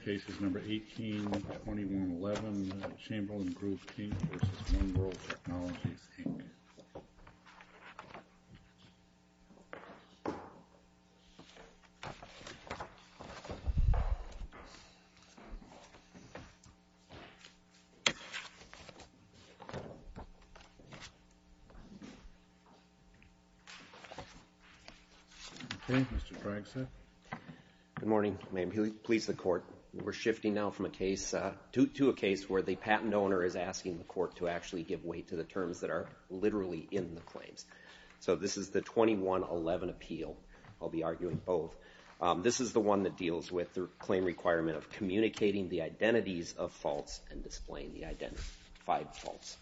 Okay, Mr. Bragstaff. Good morning. May it please the Court, Mr. Bragstaff. We're shifting now from a case to a case where the patent owner is asking the Court to actually give weight to the terms that are literally in the claims. So, this is the 2111 appeal. I'll be arguing both. This is the one that deals with the claim requirement of communicating the identities of faults and displaying the identified faults.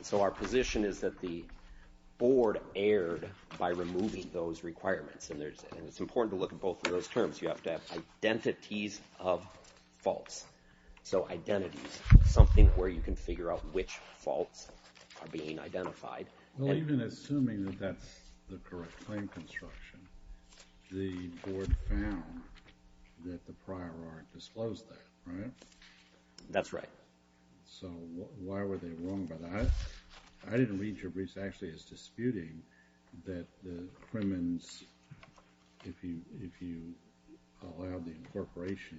So, our position is that the Board erred by removing those requirements, and it's important to look at both of those terms. You have to have identities of faults. So, identities, something where you can figure out which faults are being identified. Well, even assuming that that's the correct claim construction, the Board found that the prior art disclosed that, right? That's right. So, why were they wrong about that? I didn't read your briefs actually as disputing that the Crimmins, if you allowed the incorporation,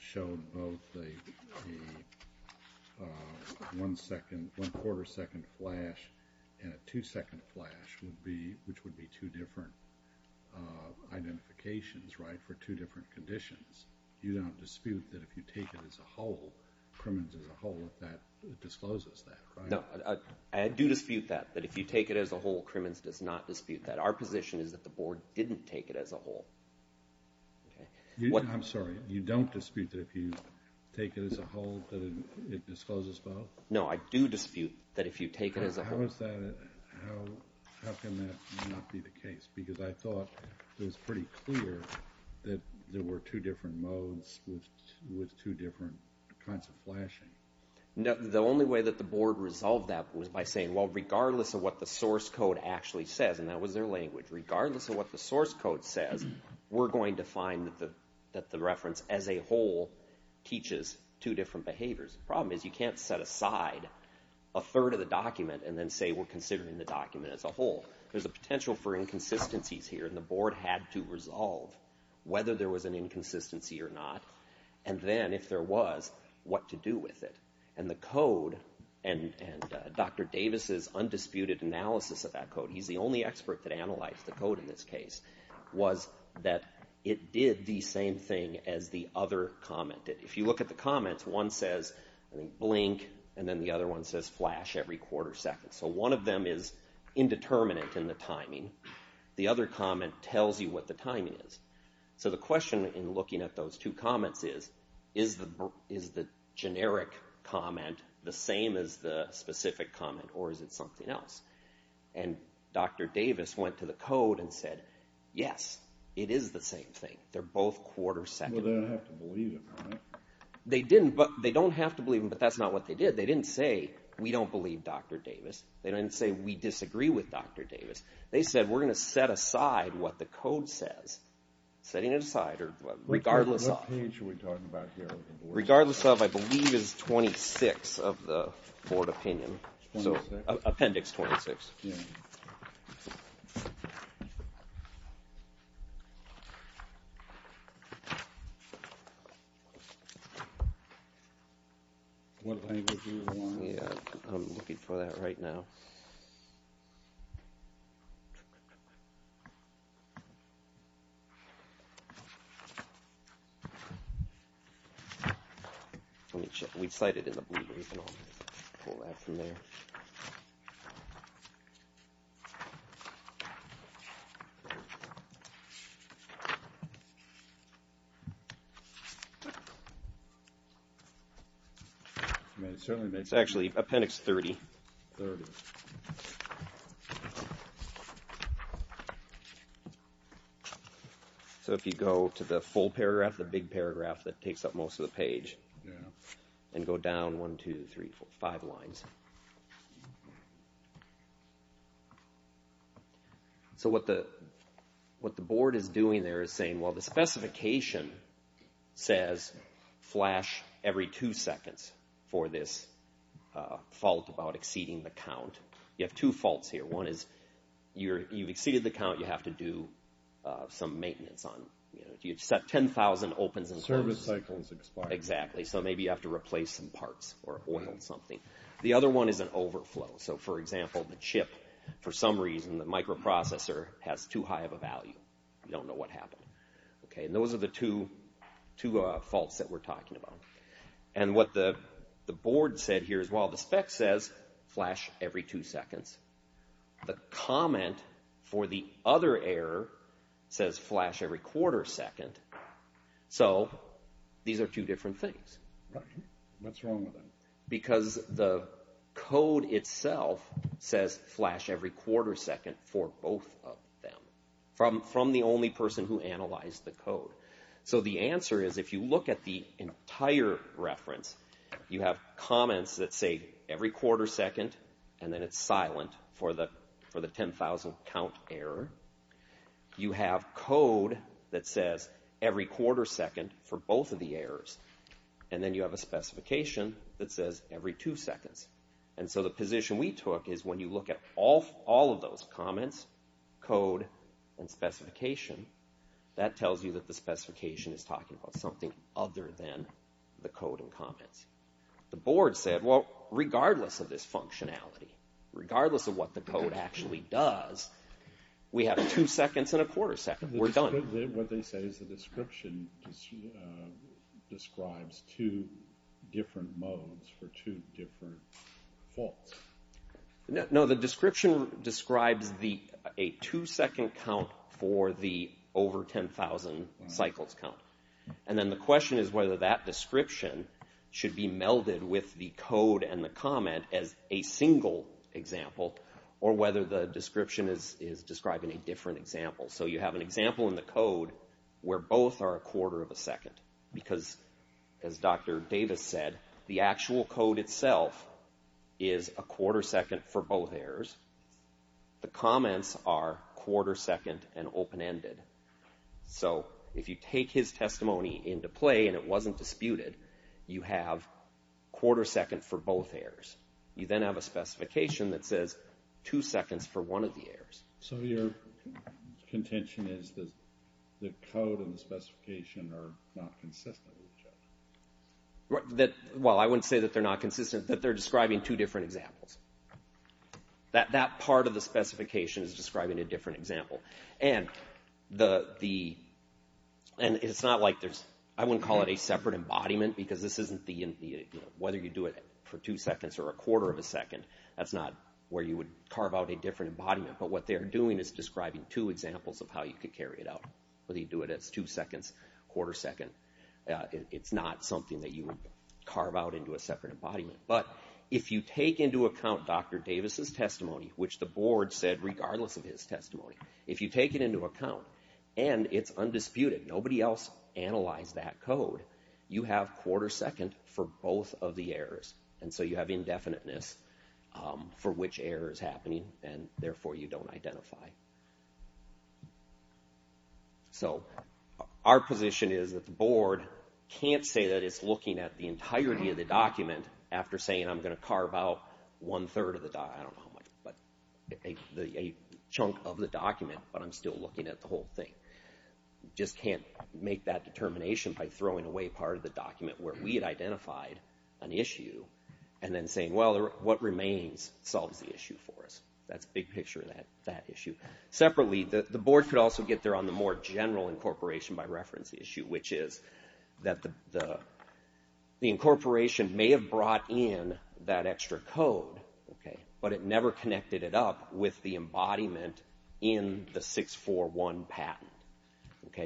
showed both a one-quarter second flash and a two-second flash, which would be two different identifications, right, for two different conditions. You don't dispute that if you take it as a whole, Crimmins as a whole, that it discloses that, right? No, I do dispute that, that if you take it as a whole, Crimmins does not dispute that. Our position is that the Board didn't take it as a whole. I'm sorry, you don't dispute that if you take it as a whole, that it discloses both? No, I do dispute that if you take it as a whole. How can that not be the case? Because I thought it was pretty clear that there were two different modes with two different kinds of flashing. The only way that the Board resolved that was by saying, well, regardless of what the source code actually says, and that was their language, regardless of what the source code says, we're going to find that the reference as a whole teaches two different behaviors. The problem is you can't set aside a third of the document and then say we're considering the document as a whole. There's a potential for inconsistencies here, and the Board had to resolve whether there was an inconsistency or not, and then, if there was, what to do with it. And the code, and Dr. Davis's undisputed analysis of that code, he's the only expert that analyzed the code in this case, was that it did the same thing as the other comment did. If you look at the comments, one says, I think, blink, and then the other one says flash every quarter second. So one of them is indeterminate in the timing. The other comment tells you what the timing is. So the question in looking at those two comments is, is the generic comment the same as the specific comment, or is it something else? And Dr. Davis went to the code and said, yes, it is the same thing. They're both quarter seconds. Well, they don't have to believe him, right? They don't have to believe him, but that's not what they did. They didn't say, we don't believe Dr. Davis. They didn't say, we disagree with Dr. Davis. They said, we're going to set aside what the code says. Setting it aside, regardless of. What page are we talking about here? Regardless of, I believe, is 26 of the board opinion. So appendix 26. What language do you want? Yeah, I'm looking for that right now. Let me check. We cited it in the blue. We can pull that from there. It's actually appendix 30. 30. So if you go to the full paragraph, the big paragraph that takes up most of the page, and go down one, two, three, four, five lines. So what the board is doing there is saying, well, the specification says flash every two seconds for this fault about exceeding the count. You have two faults here. One is you've exceeded the count. You have to do some maintenance on it. If you set 10,000 opens and closes. Service cycle is expired. Exactly. So maybe you have to replace some parts or oil something. The other one is an overflow. So for example, the chip, for some reason, the microprocessor has too high of a value. You don't know what happened. And those are the two faults that we're talking about. And what the board said here is, well, the spec says flash every two seconds. The comment for the other error says flash every quarter second. So these are two different things. Right. What's wrong with them? Because the code itself says flash every quarter second for both of them from the only person who analyzed the code. So the answer is, if you look at the entire reference, you have comments that say every quarter second and then it's silent for the 10,000 count error. You have code that says every quarter second for both of the errors. And then you have a specification that says every two seconds. And so the position we took is when you look at all of those comments, code, and specification, that tells you that the specification is talking about something other than the code and comments. The board said, well, regardless of this functionality, regardless of what the code actually does, we have two seconds and a quarter second. We're done. What they say is the description describes two different modes for two different faults. No, the description describes a two second count for the over 10,000 cycles count. And then the question is whether that description should be melded with the code and the comment as a single example or whether the description is describing a different example. So you have an example in the code where both are a quarter of a second. Because, as Dr. Davis said, the actual code itself is a quarter second for both errors. The comments are quarter second and open-ended. So if you take his testimony into play and it wasn't disputed, you have quarter second for both errors. You then have a specification that says two seconds for one of the errors. So your contention is that the code and the specification are not consistent with each other? Well, I wouldn't say that they're not consistent, that they're describing two different examples. That part of the specification is describing a different example. And it's not like there's, I wouldn't call it a separate embodiment because this isn't the, whether you do it for two seconds or a quarter of a second, that's not where you would carve out a different embodiment. But what they're doing is describing two examples of how you could carry it out. Whether you do it as two seconds, quarter second, it's not something that you would carve out into a separate embodiment. But if you take into account Dr. Davis' testimony, which the board said regardless of his testimony, if you take it into account and it's undisputed, nobody else analyzed that code, you have quarter second for both of the errors. And so you have indefiniteness for which error is happening and therefore you don't identify. So our position is that the board can't say that it's looking at the entirety of the document after saying I'm going to carve out one third of the, I don't know the chunk of the document, but I'm still looking at the whole thing. Just can't make that determination by throwing away part of the document where we had identified an issue and then saying, well, what remains solves the issue for us. That's a big picture of that issue. Separately, the board could also get there on the more general incorporation by reference issue, which is that the incorporation may have brought in that embodiment in the 641 patent.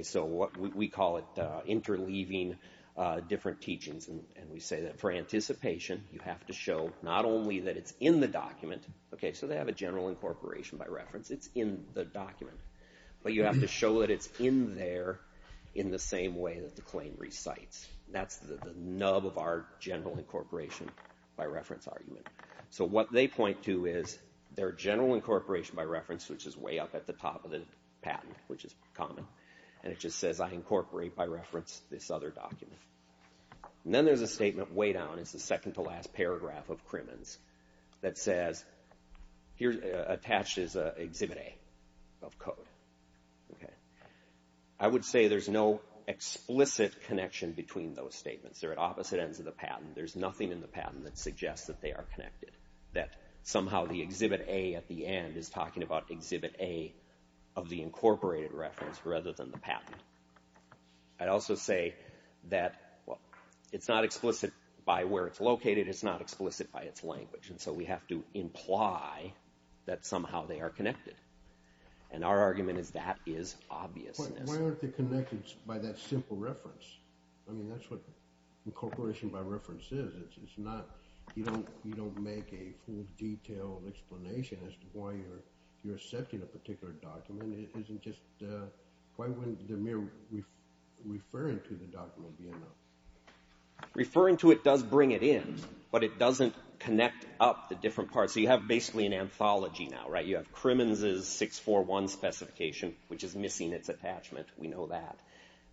So we call it interleaving different teachings and we say that for anticipation you have to show not only that it's in the document, so they have a general incorporation by reference, it's in the document. But you have to show that it's in there in the same way that the claim recites. That's the nub of our general incorporation by reference argument. So what they point to is their general incorporation by reference, which is way up at the top of the patent, which is common, and it just says I incorporate by reference this other document. Then there's a statement way down, it's the second to last paragraph of Crimmins that says, attached is exhibit A of code. I would say there's no explicit connection between those statements. They're at opposite ends of the patent. There's nothing in the patent that suggests that they are connected, that somehow the exhibit A at the end is talking about exhibit A of the incorporated reference rather than the patent. I'd also say that it's not explicit by where it's located, it's not explicit by its language, and so we have to imply that somehow they are connected. And our argument is that is obviousness. Why aren't they connected by that simple reference? I mean, that's what incorporation by reference is. You don't make a full detailed explanation as to why you're accepting a particular document. Why wouldn't the mere referring to the document be enough? Referring to it does bring it in, but it doesn't connect up the different parts. So you have basically an anthology now, right? You have Crimmins' 641 specification, which is missing its attachment. We know that.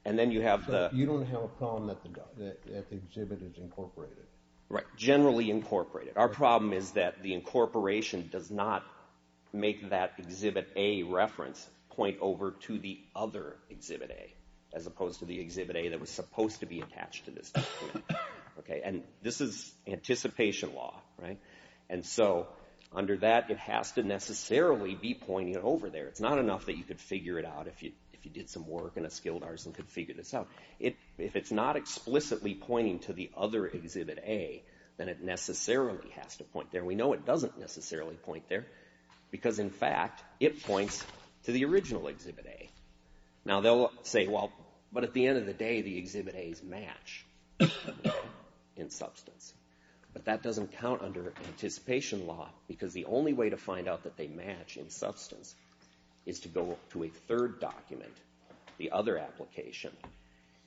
You don't have a problem that the exhibit is incorporated. Right, generally incorporated. Our problem is that the incorporation does not make that exhibit A reference point over to the other exhibit A as opposed to the exhibit A that was supposed to be attached to this document. And this is anticipation law, right? And so under that, it has to necessarily be pointing over there. It's not enough that you could figure it out if you did some work in a skilled artist and could figure this out. If it's not explicitly pointing to the other exhibit A, then it necessarily has to point there. We know it doesn't necessarily point there because, in fact, it points to the original exhibit A. Now they'll say, well, but at the end of the day, the exhibit A's match in substance. But that doesn't count under anticipation law because the only way to find out that they match in substance is to go to a third document, the other application,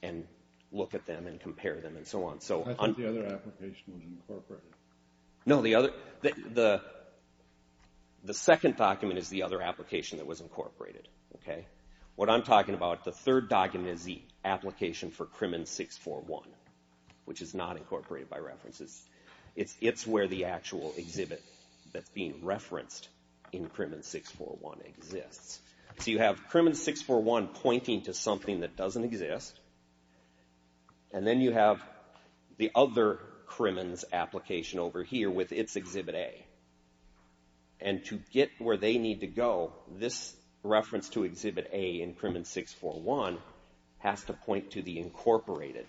and look at them and compare them and so on. I thought the other application was incorporated. No, the second document is the other application that was incorporated. What I'm talking about, the third document is the application for Krimmen 641, which is not incorporated by references. It's where the actual exhibit that's being referenced in Krimmen 641 exists. So you have Krimmen 641 pointing to something that doesn't exist. And then you have the other Krimmen's application over here with its exhibit A. And to get where they need to go, this reference to exhibit A in Krimmen 641 has to point to the incorporated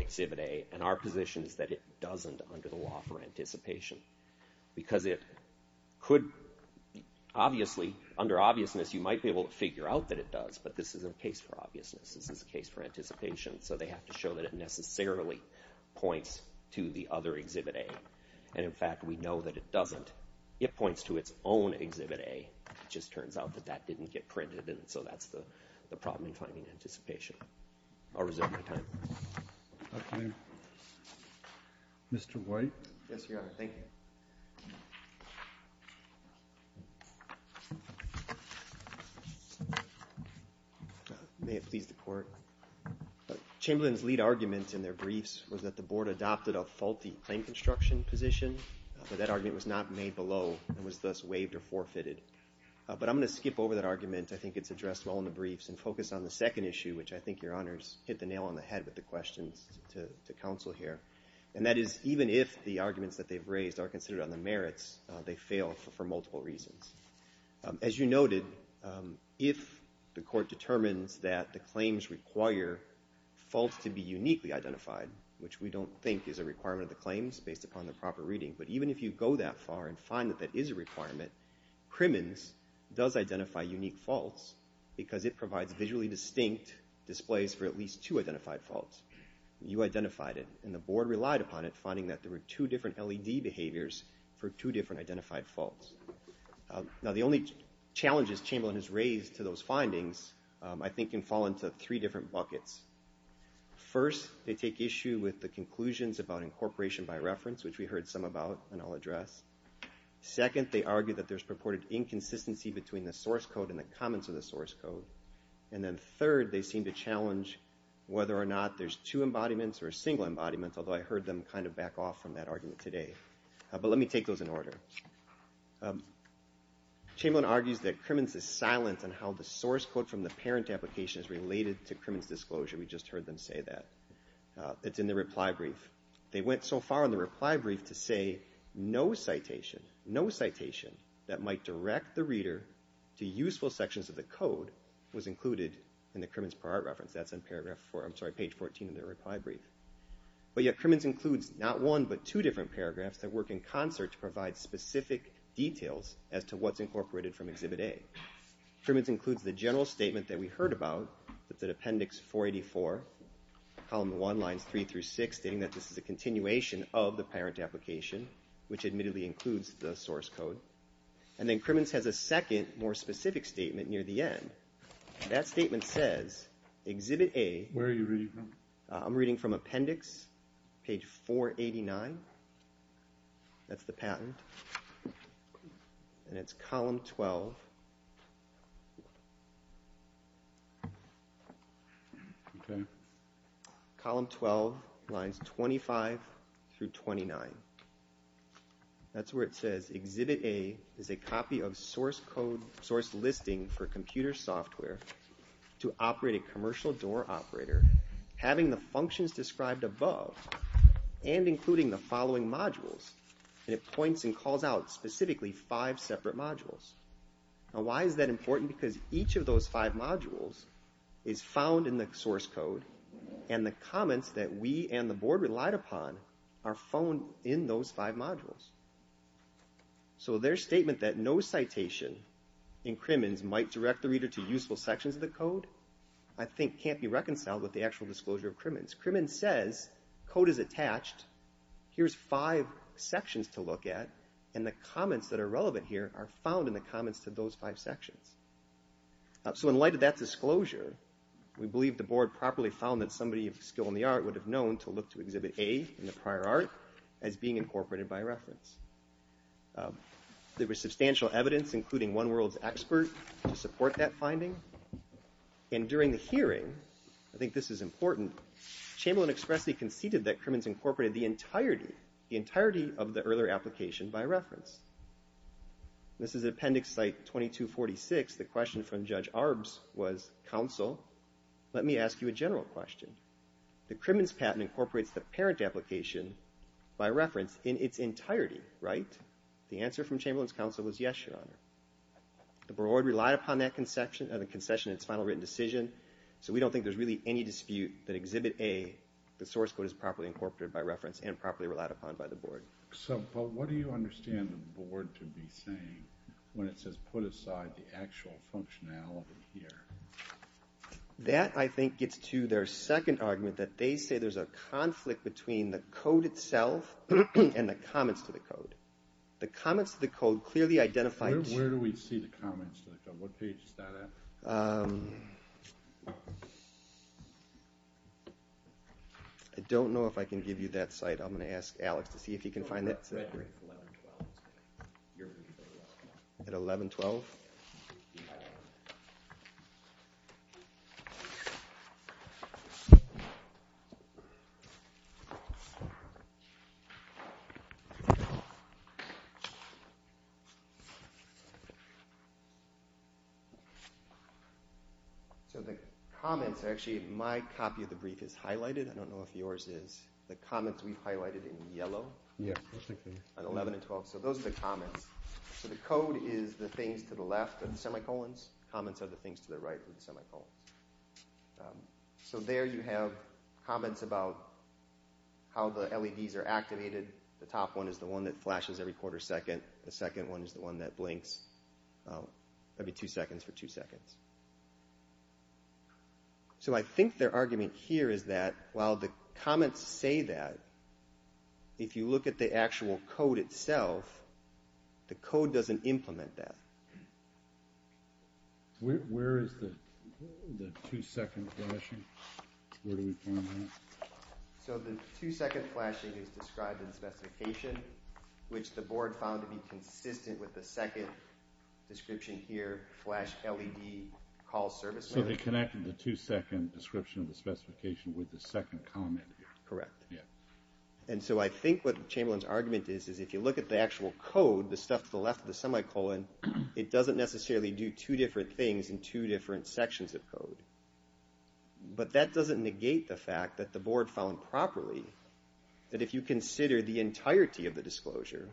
exhibit A. And our position is that it doesn't under the law for anticipation because it could obviously, under obviousness, you might be able to figure out that it does, but this isn't a case for obviousness. This is a case for anticipation. So they have to show that it necessarily points to the other exhibit A. And, in fact, we know that it doesn't. It points to its own exhibit A. It just turns out that that didn't get printed, and so that's the problem in finding anticipation. I'll reserve my time. Okay. Mr. White? Yes, Your Honor. Thank you. May it please the Court. Chamberlain's lead argument in their briefs was that the Board adopted a faulty claim construction position, but that argument was not made below and was thus waived or forfeited. But I'm going to skip over that argument. I think it's addressed well in the briefs and focus on the second issue, which I think, Your Honors, hit the nail on the head with the questions to counsel here. And that is even if the arguments that they've raised are considered on the merits, they fail for multiple reasons. As you noted, if the Court determines that the claims require faults to be uniquely identified, which we don't think is a requirement of the claims based upon the proper reading, but even if you go that far and find that that is a requirement, Crimmins does identify unique faults because it provides visually distinct displays for at least two identified faults. You identified it, and the Board relied upon it, finding that there were two different LED behaviors for two different identified faults. Now the only challenges Chamberlain has raised to those findings, I think, can fall into three different buckets. First, they take issue with the conclusions about incorporation by reference, which we heard some about and I'll address. Second, they argue that there's purported inconsistency between the source code and the comments of the source code. And then third, they seem to challenge whether or not there's two embodiments or a single embodiment, although I heard them kind of back off from that argument today. But let me take those in order. Chamberlain argues that Crimmins is silent on how the source code from the parent application is related to Crimmins' disclosure. We just heard them say that. It's in the reply brief. They went so far in the reply brief to say, no citation, no citation that might direct the reader to useful sections of the code was included in the Crimmins per art reference. That's on page 14 of the reply brief. But yet Crimmins includes not one but two different paragraphs that work in concert to provide specific details as to what's incorporated from Exhibit A. Crimmins includes the general statement that we heard about, that's at Appendix 484, Column 1, Lines 3 through 6, stating that this is a continuation of the parent application, which admittedly includes the source code. And then Crimmins has a second, more specific statement near the end. That statement says, Exhibit A... Where are you reading from? I'm reading from Appendix, page 489. That's the patent. And it's Column 12. Column 12, Lines 25 through 29. That's where it says, Exhibit A is a copy of source code, source listing for computer software to operate a commercial door operator, having the functions described above and including the following modules. And it points and calls out specifically five separate modules. Now why is that important? Because each of those five modules is found in the source code and the comments that we and the board relied upon are found in those five modules. So their statement that no citation in Crimmins might direct the reader to useful sections of the code, I think can't be reconciled with the actual disclosure of Crimmins. Crimmins says, Code is attached. Here's five sections to look at, and the comments that are relevant here are found in the comments to those five sections. So in light of that disclosure, we believe the board properly found that somebody of skill in the art would have known to look to Exhibit A in the prior art as being incorporated by reference. There was substantial evidence, including One World's expert, to support that finding. And during the hearing, I think this is important, Chamberlain expressly conceded that Crimmins incorporated the entirety of the earlier application by reference. This is Appendix Site 2246. The question from Judge Arbs was, counsel, let me ask you a general question. The Crimmins patent incorporates the parent application by reference in its entirety, right? The answer from Chamberlain's counsel was yes, Your Honor. The board relied upon that concession in its final written decision, so we don't think there's really any dispute that Exhibit A, the source code is properly incorporated by reference and properly relied upon by the board. So what do you understand the board to be saying when it says put aside the actual functionality here? That, I think, gets to their second argument that they say there's a conflict between the code itself and the comments to the code. The comments to the code clearly identify... Where do we see the comments to the code? What page is that at? I don't know if I can give you that site. I'm going to ask Alex to see if he can find that. At 1112? So the comments are actually... My copy of the brief is highlighted. I don't know if yours is. The comments we've highlighted in yellow. At 11 and 12. So those are the comments. So the code is the things to the left are the semicolons. The comments are the things to the right are the semicolons. So there you have comments about how the LEDs are activated. The top one is the one that flashes every quarter second. The second one is the one that blinks every 2 seconds for 2 seconds. So I think their argument here is that while the comments say that if you look at the actual code itself the code doesn't implement that. Where is the 2 second flashing? Where do we find that? So the 2 second flashing is described in the specification which the board found to be consistent with the second description here flash LED call service. So they connected the 2 second description of the specification with the second comment here. And so I think what Chamberlain's argument is is if you look at the actual code, the stuff to the left of the semicolon it doesn't necessarily do 2 different things in 2 different sections of code. But that doesn't negate the fact that the board found properly that if you consider the entirety of the disclosure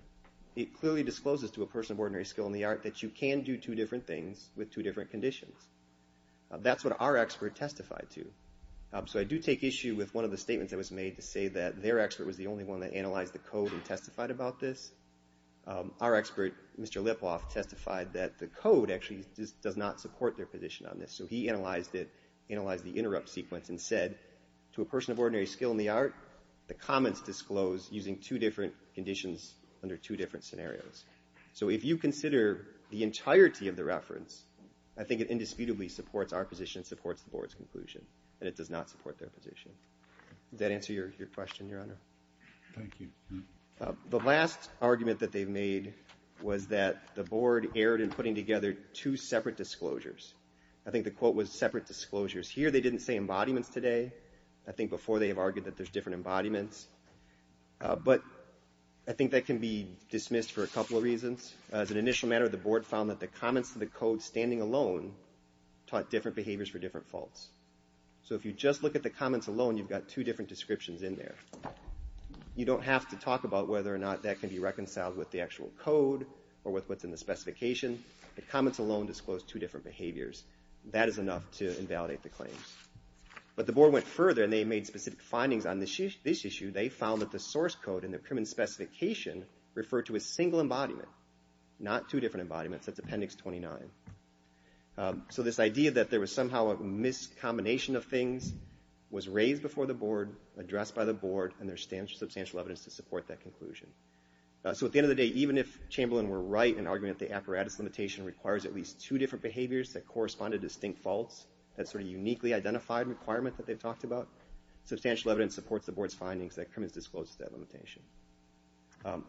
it clearly discloses to a person of ordinary skill in the art that you can do 2 different things with 2 different conditions. That's what our expert testified to. So I do take issue with one of the statements that was made to say that their expert was the only one that analyzed the code and testified about this. Our expert, Mr. Lipoff, testified that the code actually does not support their position on this. So he analyzed the interrupt sequence and said to a person of ordinary skill in the art the comments disclosed using 2 different conditions under 2 different scenarios. So if you consider the entirety of the reference I think it indisputably supports our position and supports the board's conclusion. And it does not support their position. Does that answer your question, Your Honor? The last argument that they made was that the board erred in putting together 2 separate disclosures. I think the quote was separate disclosures. Here they didn't say embodiments today. I think before they have argued that there's different embodiments. But I think that can be dismissed for a couple of reasons. As an initial matter, the board found that the comments to the code standing alone taught different behaviors for different faults. So if you just look at the comments alone you've got 2 different descriptions in there. You don't have to talk about whether or not that can be reconciled with the actual code or with what's in the specification. The comments alone disclose 2 different behaviors. That is enough to invalidate the claims. But the board went further and they made specific findings on this issue. They found that the source code in the criminal specification referred to a single embodiment, not 2 different embodiments. That's Appendix 29. So this idea that there was somehow a miscombination of things was raised before the board, addressed by the board and there's substantial evidence to support that conclusion. So at the end of the day, even if Chamberlain were right in arguing that the apparatus limitation requires at least 2 different behaviors that correspond to distinct faults, that sort of uniquely identified requirement that they talked about, substantial evidence supports the board's findings that criminals disclose that limitation.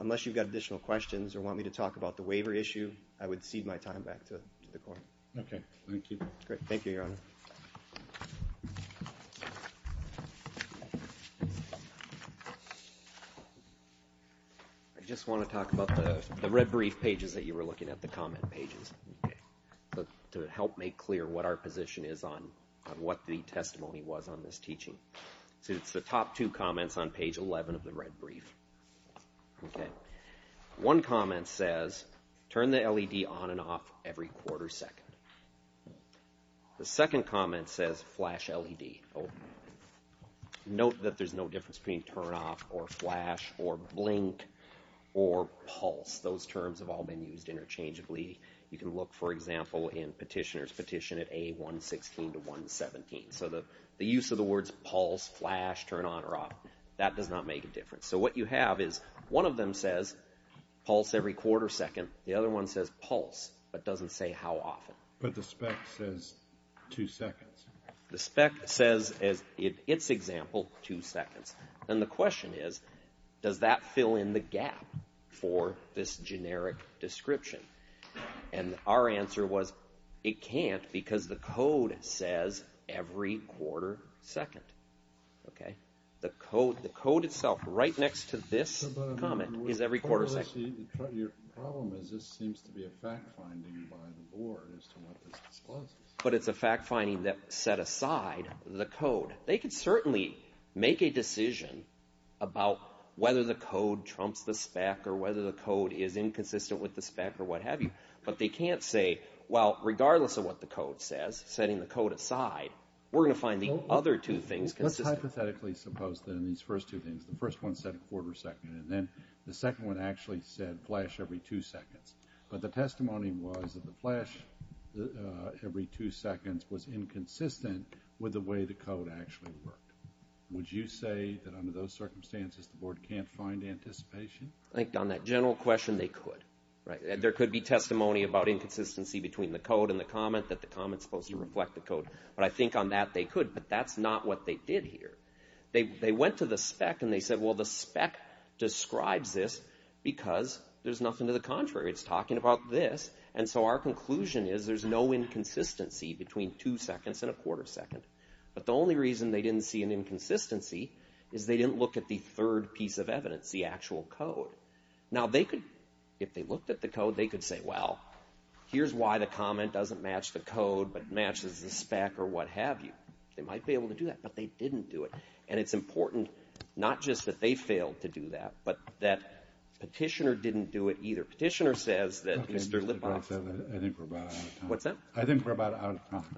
Unless you've got additional questions or want me to talk about the waiver issue I would cede my time back to the court. Okay, thank you. I just want to talk about the red brief pages that you were looking at, the comment pages. To help make clear what our position is on what the testimony was on this teaching. It's the top 2 comments on page 11 of the red brief. One comment says, turn the LED on and off every quarter second. The second comment says, flash LED. Note that there's no difference between flash or blink or pulse. Those terms have all been used interchangeably. You can look, for example, in petitioner's petition at A116 to 117. So the use of the words pulse, flash, turn on or off, that does not make a difference. So what you have is one of them says pulse every quarter second. The other one says pulse, but doesn't say how often. But the spec says 2 seconds. The spec says, in its example, 2 seconds. Then the question is, does that fill in the gap for this generic description? And our answer was, it can't because the code says every quarter second. The code itself, right next to this comment, is every quarter second. Your problem is this seems to be a fact finding by the board but it's a fact finding that set aside the code. They can certainly make a decision about whether the code trumps the spec or whether the code is inconsistent with the spec or what have you. But they can't say, well, regardless of what the code says, setting the code aside, we're going to find the other two things consistent. Let's hypothetically suppose that in these first two things, the first one said a quarter second and then the second one actually said flash every 2 seconds. But the testimony was that the flash every 2 seconds was inconsistent with the way the code actually worked. Would you say that under those circumstances the board can't find anticipation? I think on that general question, they could. There could be testimony about inconsistency between the code and the comment that the comment is supposed to reflect the code. But I think on that they could, but that's not what they did here. They went to the spec and they said, well, the spec describes this because there's nothing to the contrary. It's talking about this. And so our conclusion is there's no inconsistency between 2 seconds and a quarter second. But the only reason they didn't see an inconsistency is they didn't look at the third piece of evidence, the actual code. Now, if they looked at the code, they could say, well, here's why the comment doesn't match the code but matches the spec or what have you. They might be able to do that, but they didn't do it. And it's important not just that they failed to do that but that Petitioner didn't do it either. Petitioner says that Mr. Lippoff... I think we're about out of time. Thank you.